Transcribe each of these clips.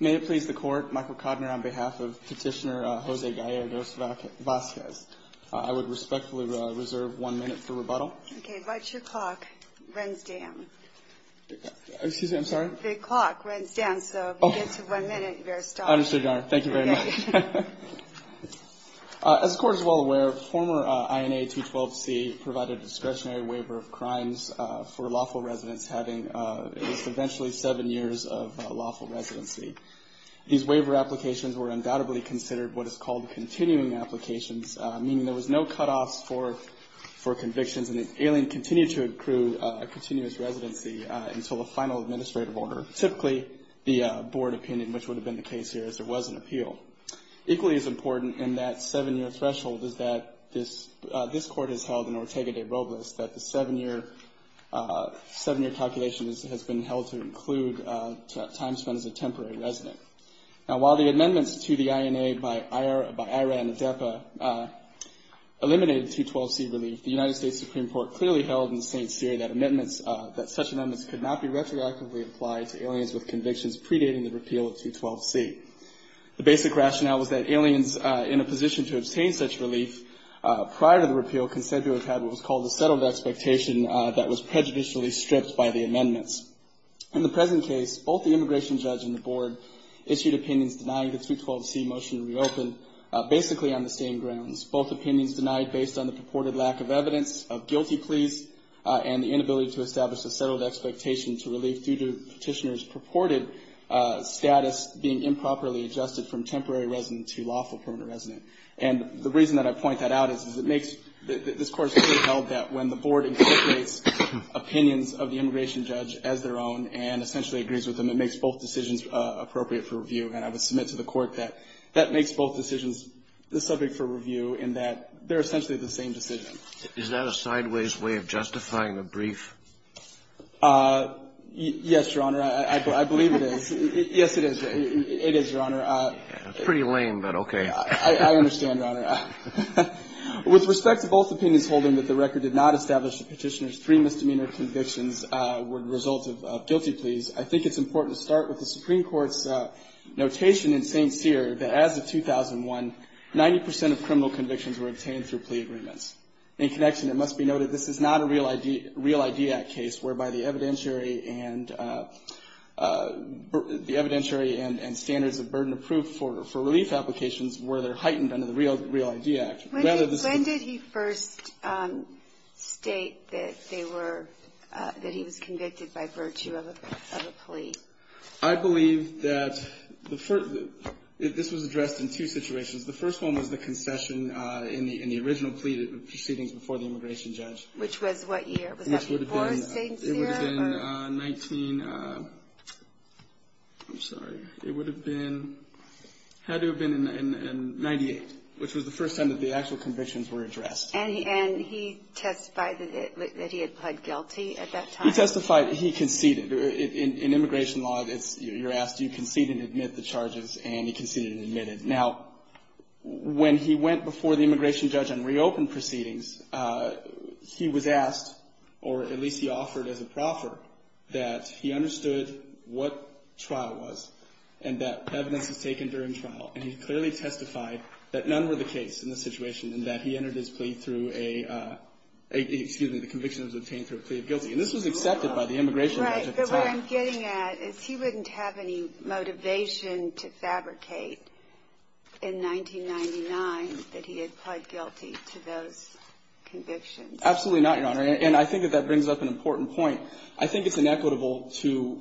May it please the Court, Michael Kodner on behalf of Petitioner Jose Gallegos-Vasquez. I would respectfully reserve one minute for rebuttal. Okay, watch your clock. It runs down. Excuse me, I'm sorry? The clock runs down, so if you get to one minute, you're stopped. Understood, Your Honor. Thank you very much. As the Court is well aware, former INA 212C provided a discretionary waiver of crimes for lawful residents having at least eventually seven years of lawful residency. These waiver applications were undoubtedly considered what is called continuing applications, meaning there was no cutoffs for convictions, and the alien continued to accrue a continuous residency until a final administrative order, typically the board opinion, which would have been the case here as there was an appeal. Equally as important in that seven-year threshold is that this Court has held in Ortega de Robles that the seven-year calculation has been held to include time spent as a temporary resident. Now, while the amendments to the INA by IRA and ADEPA eliminated 212C relief, the United States Supreme Court clearly held in St. Cyr that such amendments could not be retroactively applied to aliens with convictions predating the repeal of 212C. The basic rationale was that aliens in a position to obtain such relief prior to the repeal considered to have what was called a settled expectation that was prejudicially stripped by the amendments. In the present case, both the immigration judge and the board issued opinions denying the 212C motion to reopen, basically on the same grounds. Both opinions denied based on the purported lack of evidence of guilty pleas and the inability to establish a settled expectation to relief due to petitioners' purported status being improperly adjusted from temporary resident to lawful permanent resident. And the reason that I point that out is that this Court has clearly held that when the board incorporates opinions of the immigration judge as their own and essentially agrees with them, it makes both decisions appropriate for review. And I would submit to the Court that that makes both decisions the subject for review in that they're essentially the same decision. Is that a sideways way of justifying the brief? Yes, Your Honor. I believe it is. Yes, it is. It is, Your Honor. Pretty lame, but okay. I understand, Your Honor. With respect to both opinions holding that the record did not establish that petitioners' three misdemeanor convictions were the result of guilty pleas, I think it's important to start with the Supreme Court's notation in St. Cyr that as of 2001, 90 percent of criminal convictions were obtained through plea agreements. In connection, it must be noted this is not a Real ID Act case whereby the evidentiary and standards of burden of proof for relief applications were heightened under the Real ID Act. When did he first state that he was convicted by virtue of a plea? I believe that this was addressed in two situations. The first one was the concession in the original plea proceedings before the immigration judge. Which was what year? Was that before St. Cyr? It would have been 1998, which was the first time that the actual convictions were addressed. And he testified that he had pled guilty at that time? He testified. He conceded. In immigration law, you're asked, do you concede and admit the charges? And he conceded and admitted. Now, when he went before the immigration judge and reopened proceedings, he was asked, or at least he offered as a proffer, that he understood what trial was and that evidence was taken during trial. And he clearly testified that none were the case in this situation and that he entered his plea through a, excuse me, the conviction was obtained through a plea of guilty. And this was accepted by the immigration judge at the time. Right. But what I'm getting at is he wouldn't have any motivation to fabricate in 1999 that he had pled guilty to those convictions. Absolutely not, Your Honor. And I think that that brings up an important point. I think it's inequitable to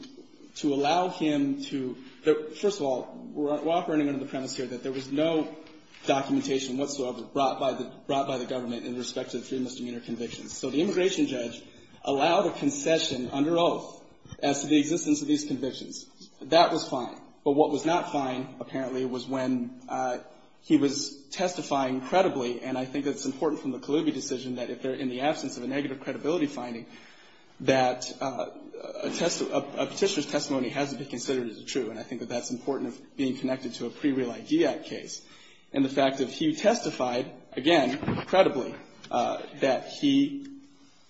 allow him to, first of all, we're operating under the premise here that there was no documentation whatsoever brought by the government in respect to the three misdemeanor convictions. So the immigration judge allowed a concession under oath as to the existence of these convictions. That was fine. But what was not fine, apparently, was when he was testifying credibly, and I think it's important from the Kaloubi decision that if they're in the absence of a negative credibility finding, that a petitioner's testimony has to be considered as true. And I think that that's important of being connected to a pre-real ID act case. And the fact that he testified, again, credibly, that he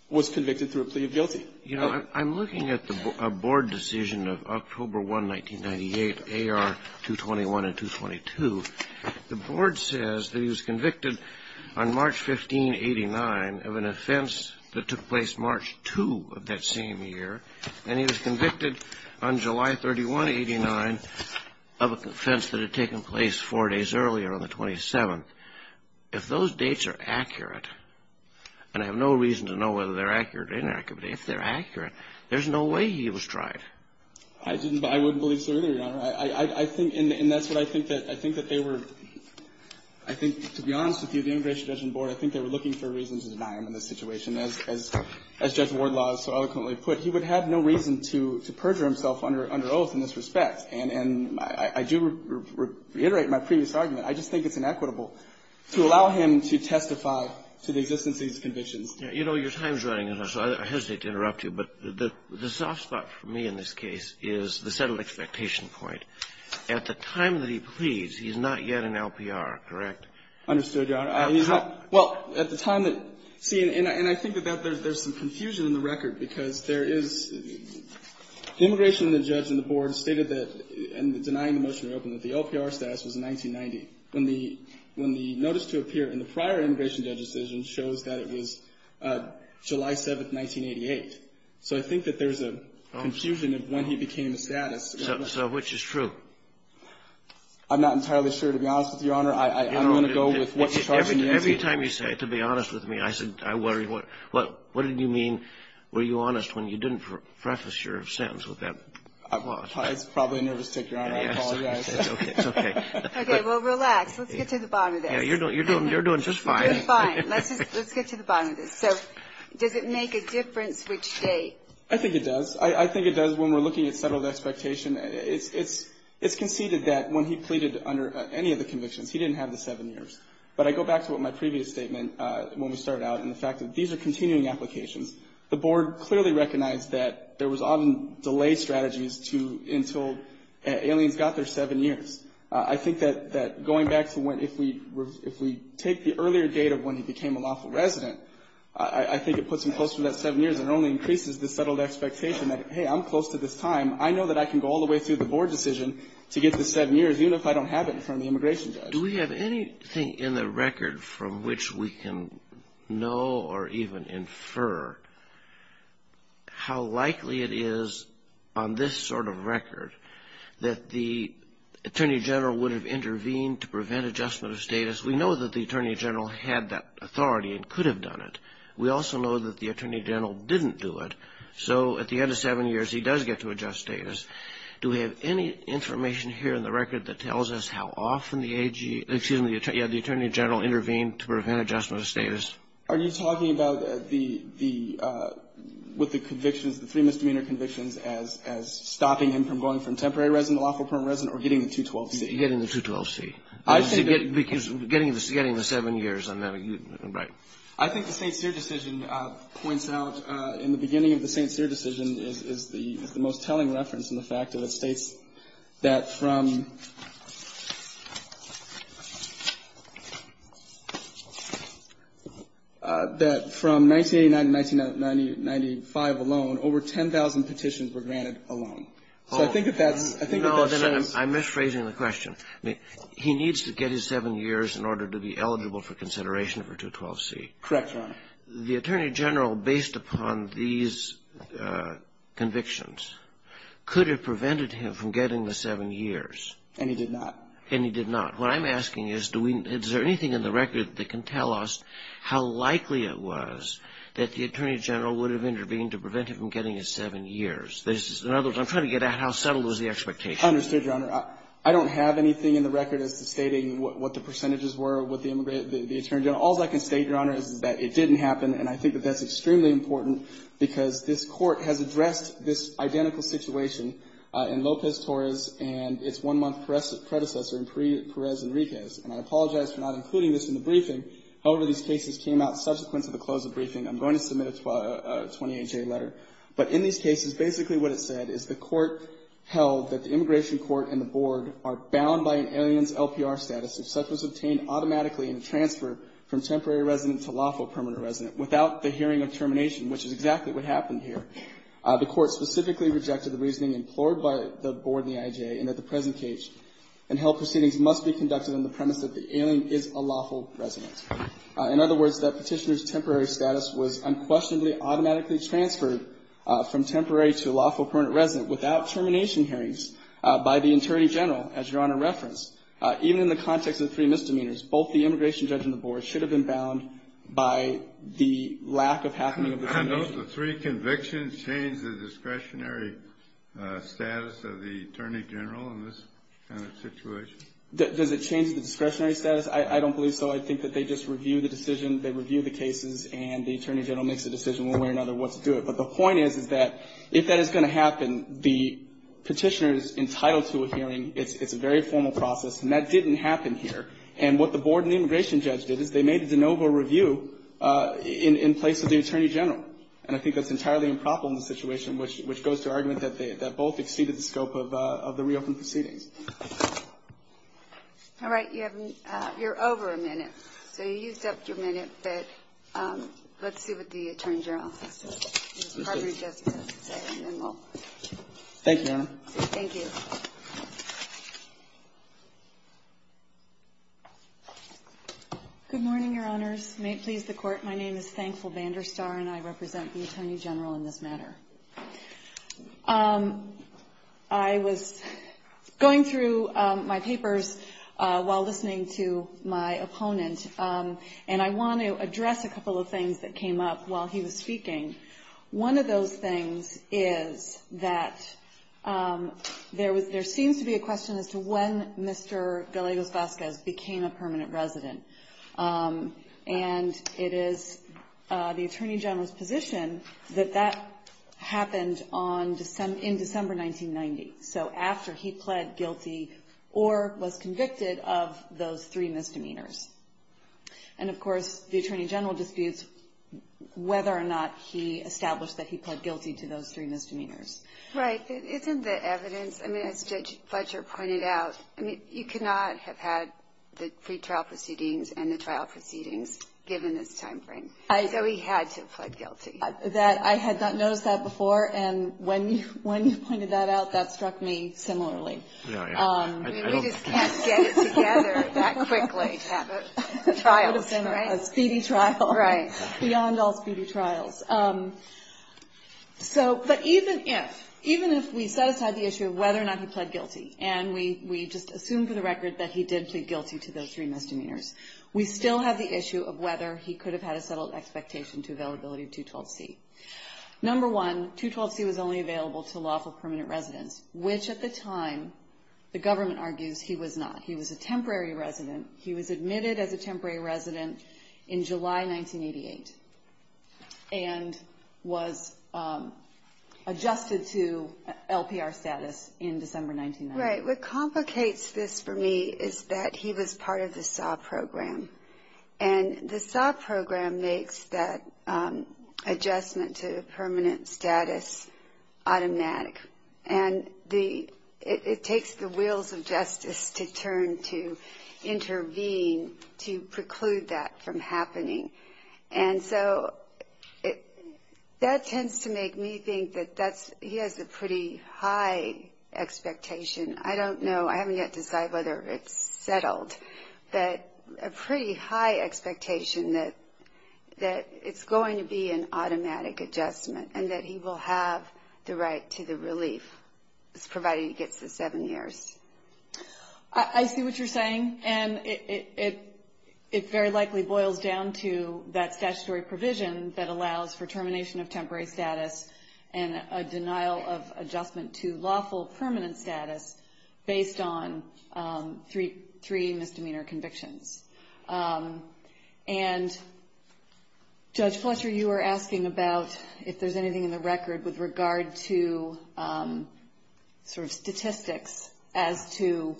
was convicted through a plea of guilty. You know, I'm looking at a board decision of October 1, 1998, AR 221 and 222. The board says that he was convicted on March 15, 89, of an offense that took place March 2 of that same year. And he was convicted on July 31, 89, of an offense that had taken place four days earlier on the 27th. If those dates are accurate, and I have no reason to know whether they're accurate or inaccurate, but if they're accurate, there's no way he was tried. I think, and that's what I think that they were, I think, to be honest with you, the immigration judgment board, I think they were looking for reasons of denial in this situation. As Judge Wardlaw so eloquently put, he would have no reason to perjure himself under oath in this respect. And I do reiterate my previous argument. I just think it's inequitable to allow him to testify to the existence of these convictions. You know, your time is running out, so I hesitate to interrupt you, but the soft spot for me in this case is the settled expectation point. At the time that he pleads, he's not yet an LPR, correct? Understood, Your Honor. He's not. Well, at the time that, see, and I think that there's some confusion in the record because there is, the immigration judgment board stated that, in denying the motion to reopen, that the LPR status was 1990. When the notice to appear in the prior immigration judge decision shows that it was July 7th, 1988. So I think that there's a confusion of when he became a status. So which is true? I'm not entirely sure, to be honest with you, Your Honor. I'm going to go with what's charged in the statute. Every time you say, to be honest with me, I worry, what did you mean, were you honest when you didn't preface your sentence with that clause? It's probably a nervous tick, Your Honor. I apologize. It's okay. Okay, well, relax. Let's get to the bottom of this. You're doing just fine. We're fine. Let's get to the bottom of this. So does it make a difference which date? I think it does. I think it does when we're looking at settled expectation. It's conceded that when he pleaded under any of the convictions, he didn't have the seven years. But I go back to what my previous statement, when we started out, and the fact that these are continuing applications. The board clearly recognized that there was often delay strategies until aliens got their seven years. I think that going back to when if we take the earlier date of when he became a lawful resident, I think it puts him closer to that seven years and only increases the settled expectation that, hey, I'm close to this time. I know that I can go all the way through the board decision to get to the seven years, even if I don't have it in front of the immigration judge. Do we have anything in the record from which we can know or even infer how likely it is on this sort of record that the Attorney General would have intervened to prevent adjustment of status? We know that the Attorney General had that authority and could have done it. We also know that the Attorney General didn't do it. So at the end of seven years, he does get to adjust status. Do we have any information here in the record that tells us how often the Attorney General intervened to prevent adjustment of status? Are you talking about with the convictions, the three misdemeanor convictions, as stopping him from going from temporary resident to lawful permanent resident or getting the 212C? Getting the 212C. Because getting the seven years. I think the St. Cyr decision points out, in the beginning of the St. Cyr decision, is the most telling reference in the fact that it states that from 1989 to 1995 alone, over 10,000 petitions were granted alone. So I think that that's the case. I'm misphrasing the question. He needs to get his seven years in order to be eligible for consideration for 212C. Correct, Your Honor. The Attorney General, based upon these convictions, could have prevented him from getting the seven years. And he did not. And he did not. What I'm asking is, is there anything in the record that can tell us how likely it was that the Attorney General would have intervened to prevent him from getting his seven years? In other words, I'm trying to get at how subtle was the expectation. Understood, Your Honor. I don't have anything in the record as to stating what the percentages were with the Attorney General. All I can state, Your Honor, is that it didn't happen. And I think that that's extremely important because this Court has addressed this identical situation in Lopez-Torres and its one-month predecessor in Perez-Enriquez. And I apologize for not including this in the briefing. However, these cases came out subsequent to the close of the briefing. I'm going to submit a 28-J letter. But in these cases, basically what it said is the Court held that the Immigration Court and the Board are bound by an alien's LPR status. If such was obtained automatically in transfer from temporary resident to lawful permanent resident without the hearing of termination, which is exactly what happened here, the Court specifically rejected the reasoning implored by the Board and the IJA, and that the present case and held proceedings must be conducted on the premise that the alien is a lawful resident. In other words, that Petitioner's temporary status was unquestionably automatically transferred from temporary to lawful permanent resident without termination hearings by the Attorney General, as Your Honor referenced. Even in the context of three misdemeanors, both the Immigration Judge and the Board should have been bound by the lack of happening of the termination. I note the three convictions change the discretionary status of the Attorney General in this kind of situation. Does it change the discretionary status? I don't believe so. I think that they just review the decision, they review the cases, and the Attorney General makes a decision one way or another what to do it. But the point is, is that if that is going to happen, the Petitioner is entitled to a hearing. It's a very formal process. And that didn't happen here. And what the Board and the Immigration Judge did is they made a de novo review in place of the Attorney General. And I think that's entirely improper in this situation, which goes to argument that both exceeded the scope of the reopened proceedings. All right. You're over a minute. So you used up your minute, but let's see what the Attorney General has to say. And then we'll move on. Thank you, Your Honor. Thank you. Good morning, Your Honors. May it please the Court, my name is Thankful Banderstar, and I represent the Attorney General in this matter. I was going through my papers while listening to my opponent, and I want to address a couple of things that came up while he was speaking. One of those things is that there seems to be a question as to when Mr. Gallegos-Vazquez became a permanent resident. And it is the Attorney General's position that that happened in December 1990, so after he pled guilty or was convicted of those three misdemeanors. And, of course, the Attorney General disputes whether or not he established that he pled guilty to those three misdemeanors. Right. Isn't the evidence, I mean, as Judge Fletcher pointed out, I mean, you could not have had the pre-trial proceedings and the trial proceedings given this time frame. So he had to have pled guilty. I had not noticed that before, and when you pointed that out, that struck me similarly. I mean, we just can't get it together that quickly to have a trial, right? Beyond all speedy trials. But even if we set aside the issue of whether or not he pled guilty, and we just assume for the record that he did plead guilty to those three misdemeanors, we still have the issue of whether he could have had a settled expectation to availability of 212C. Number one, 212C was only available to lawful permanent residents, which at the time, the government argues, he was not. He was admitted as a temporary resident in July 1988, and was adjusted to LPR status in December 1990. Right. What complicates this for me is that he was part of the SAW program, and the SAW program makes that adjustment to permanent status automatic. And it takes the wheels of justice to turn to intervene to preclude that from happening. And so that tends to make me think that he has a pretty high expectation. I don't know. I haven't yet decided whether it's settled. But a pretty high expectation that it's going to be an automatic adjustment, and that he will have the right to the release. Provided he gets the seven years. I see what you're saying, and it very likely boils down to that statutory provision that allows for termination of temporary status, and a denial of adjustment to lawful permanent status based on three misdemeanor convictions. And, Judge Fletcher, you were asking about if there's anything in the record with regard to the sort of statistics as to,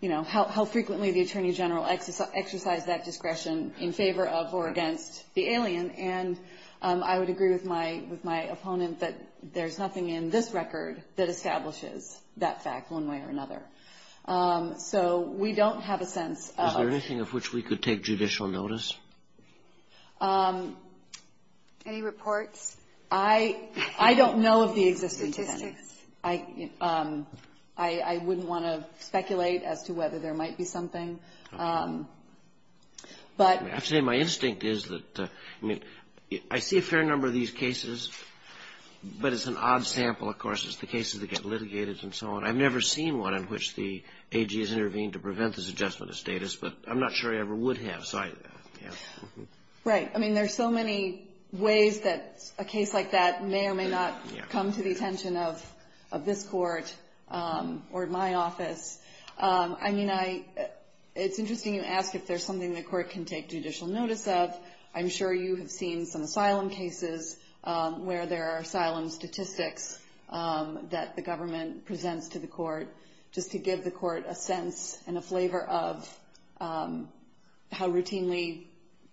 you know, how frequently the Attorney General exercised that discretion in favor of or against the alien. And I would agree with my opponent that there's nothing in this record that establishes that fact one way or another. So we don't have a sense. Is there anything of which we could take judicial notice? Any reports? I don't know of the existence of any. I wouldn't want to speculate as to whether there might be something. I have to say my instinct is that I see a fair number of these cases, but it's an odd sample, of course. It's the cases that get litigated and so on. I've never seen one in which the AG has intervened to prevent this adjustment of status, but I'm not sure he ever would have. Right. I mean, there's so many ways that a case like that may or may not come to the attention of this Court or my office. I mean, it's interesting you ask if there's something the Court can take judicial notice of. I'm sure you have seen some asylum cases where there are asylum statistics that the government presents to the Court just to give the Court a sense and a flavor of how routinely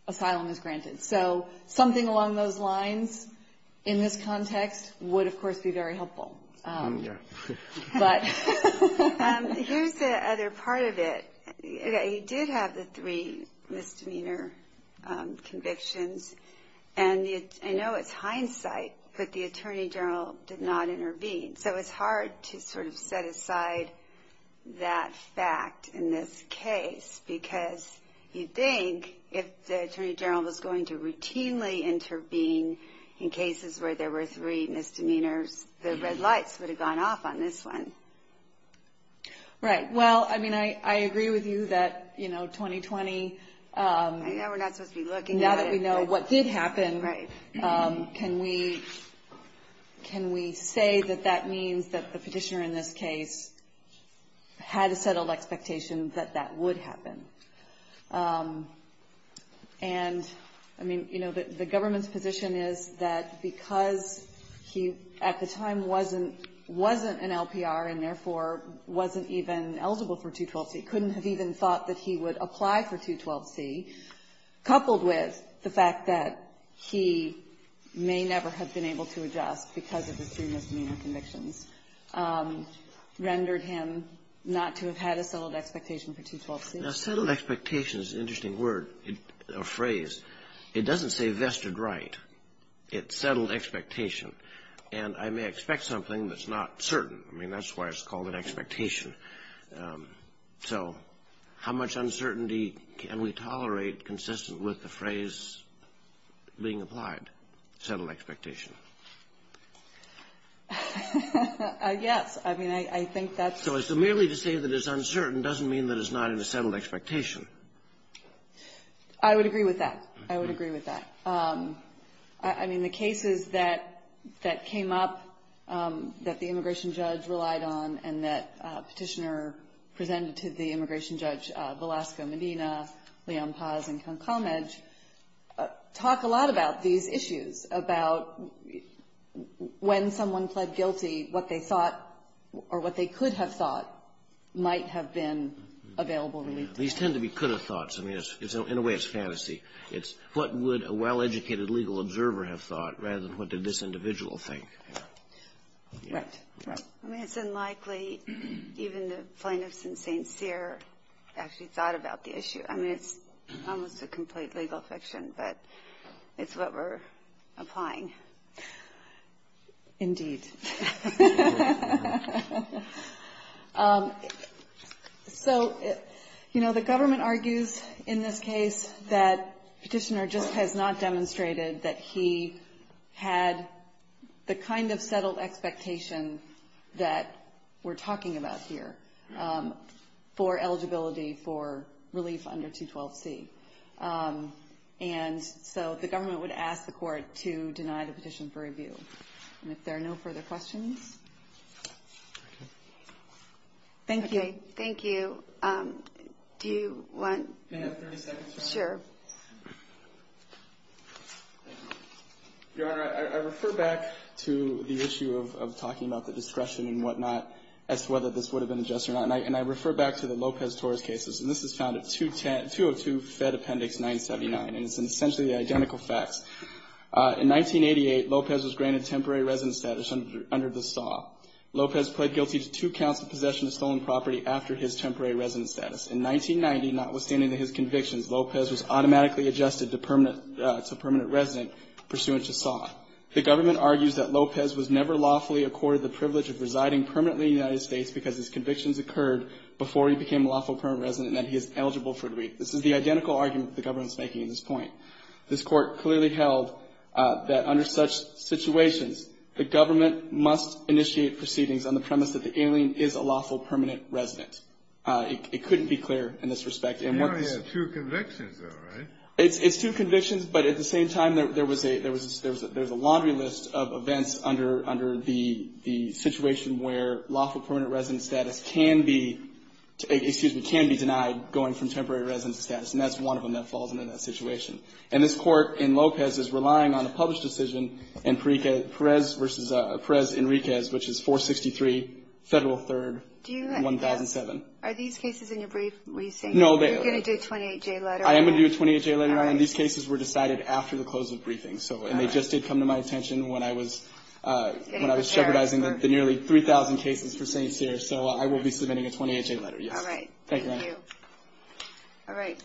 asylum is granted. So something along those lines in this context would, of course, be very helpful. Here's the other part of it. You did have the three misdemeanor convictions, and I know it's hindsight, but the Attorney General did not intervene. So it's hard to sort of set aside that fact in this case, because you'd think if the Attorney General was going to routinely intervene in cases where there were three misdemeanors, the red line would be closed. Right. Well, I mean, I agree with you that, you know, 2020, now that we know what did happen, can we say that that means that the petitioner in this case had a settled expectation that that would happen? And, I mean, you know, the government's position is that because he at the time wasn't an LPR and therefore wasn't even eligible for 212C, couldn't have even thought that he would apply for 212C, coupled with the fact that he may never have been able to adjust because of his three misdemeanor convictions rendered him not to have had a settled expectation for 212C. Now, settled expectation is an interesting word or phrase. It doesn't say vested right. It's settled expectation. And I may expect something that's not certain. I mean, that's why it's called an expectation. So how much uncertainty can we tolerate consistent with the phrase being applied, settled expectation? Yes. I mean, I think that's... So merely to say that it's uncertain doesn't mean that it's not in a settled expectation. I would agree with that. I would agree with that. I mean, the cases that came up that the immigration judge relied on and that petitioner presented to the immigration judge, Velasco Medina, Leon Paz, and Ken Comedge, talk a lot about these issues, about when someone pled guilty, what they thought or what they could have thought might have been available to lead to that. These tend to be could have thoughts. I mean, in a way, it's fantasy. It's what would a well-educated legal observer have thought rather than what did this individual think. Right. Right. I mean, it's unlikely even the plaintiffs in St. Cyr actually thought about the issue. I mean, it's almost a complete legal fiction, but it's what we're applying. Indeed. So, you know, the government argues in this case that petitioner just has not demonstrated that he had the kind of settled expectation that we're talking about here for eligibility for relief under 212C. And so the government would ask the court to deny the petition for review. And if there are no further questions. Thank you. Thank you. Do you want? Can I have 30 seconds? Sure. Your Honor, I refer back to the issue of talking about the discretion and whatnot as to whether this would have been adjusted or not. And I refer back to the Lopez-Torres cases. And this is found at 202 Fed Appendix 979. And it's essentially the identical facts. In 1988, Lopez was granted temporary residence status under the SAW. Lopez pled guilty to two counts of possession of stolen property after his temporary residence status. In 1990, notwithstanding his convictions, Lopez was automatically adjusted to permanent resident pursuant to SAW. The government argues that Lopez was never lawfully accorded the privilege of residing permanently in the United States because his convictions occurred before he became a lawful permanent resident and that he is eligible for relief. This is the identical argument the government is making in this point. This Court clearly held that under such situations, the government must initiate proceedings on the premise that the alien is a lawful permanent resident. It couldn't be clearer in this respect. He only had two convictions, though, right? It's two convictions, but at the same time, there was a laundry list of events under the situation where lawful permanent resident status can be denied going from temporary resident status. And that's one of them that falls under that situation. And this Court in Lopez is relying on a published decision in Perez-Enriquez, which is 463 Federal 3rd, 1007. Are these cases in your brief? Were you saying you were going to do a 28-J letter? I am going to do a 28-J letter. And these cases were decided after the close of the briefing. And they just did come to my attention when I was jeopardizing the nearly 3,000 cases for St. Cyr. So I will be submitting a 28-J letter, yes. All right. Thank you. All right.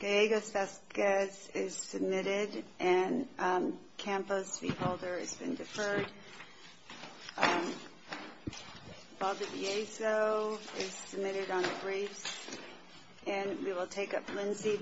Gallegos-Vazquez is submitted. And Campos, the holder, has been deferred. Valdeviezo is submitted on the briefs. And we will take up Lindsey.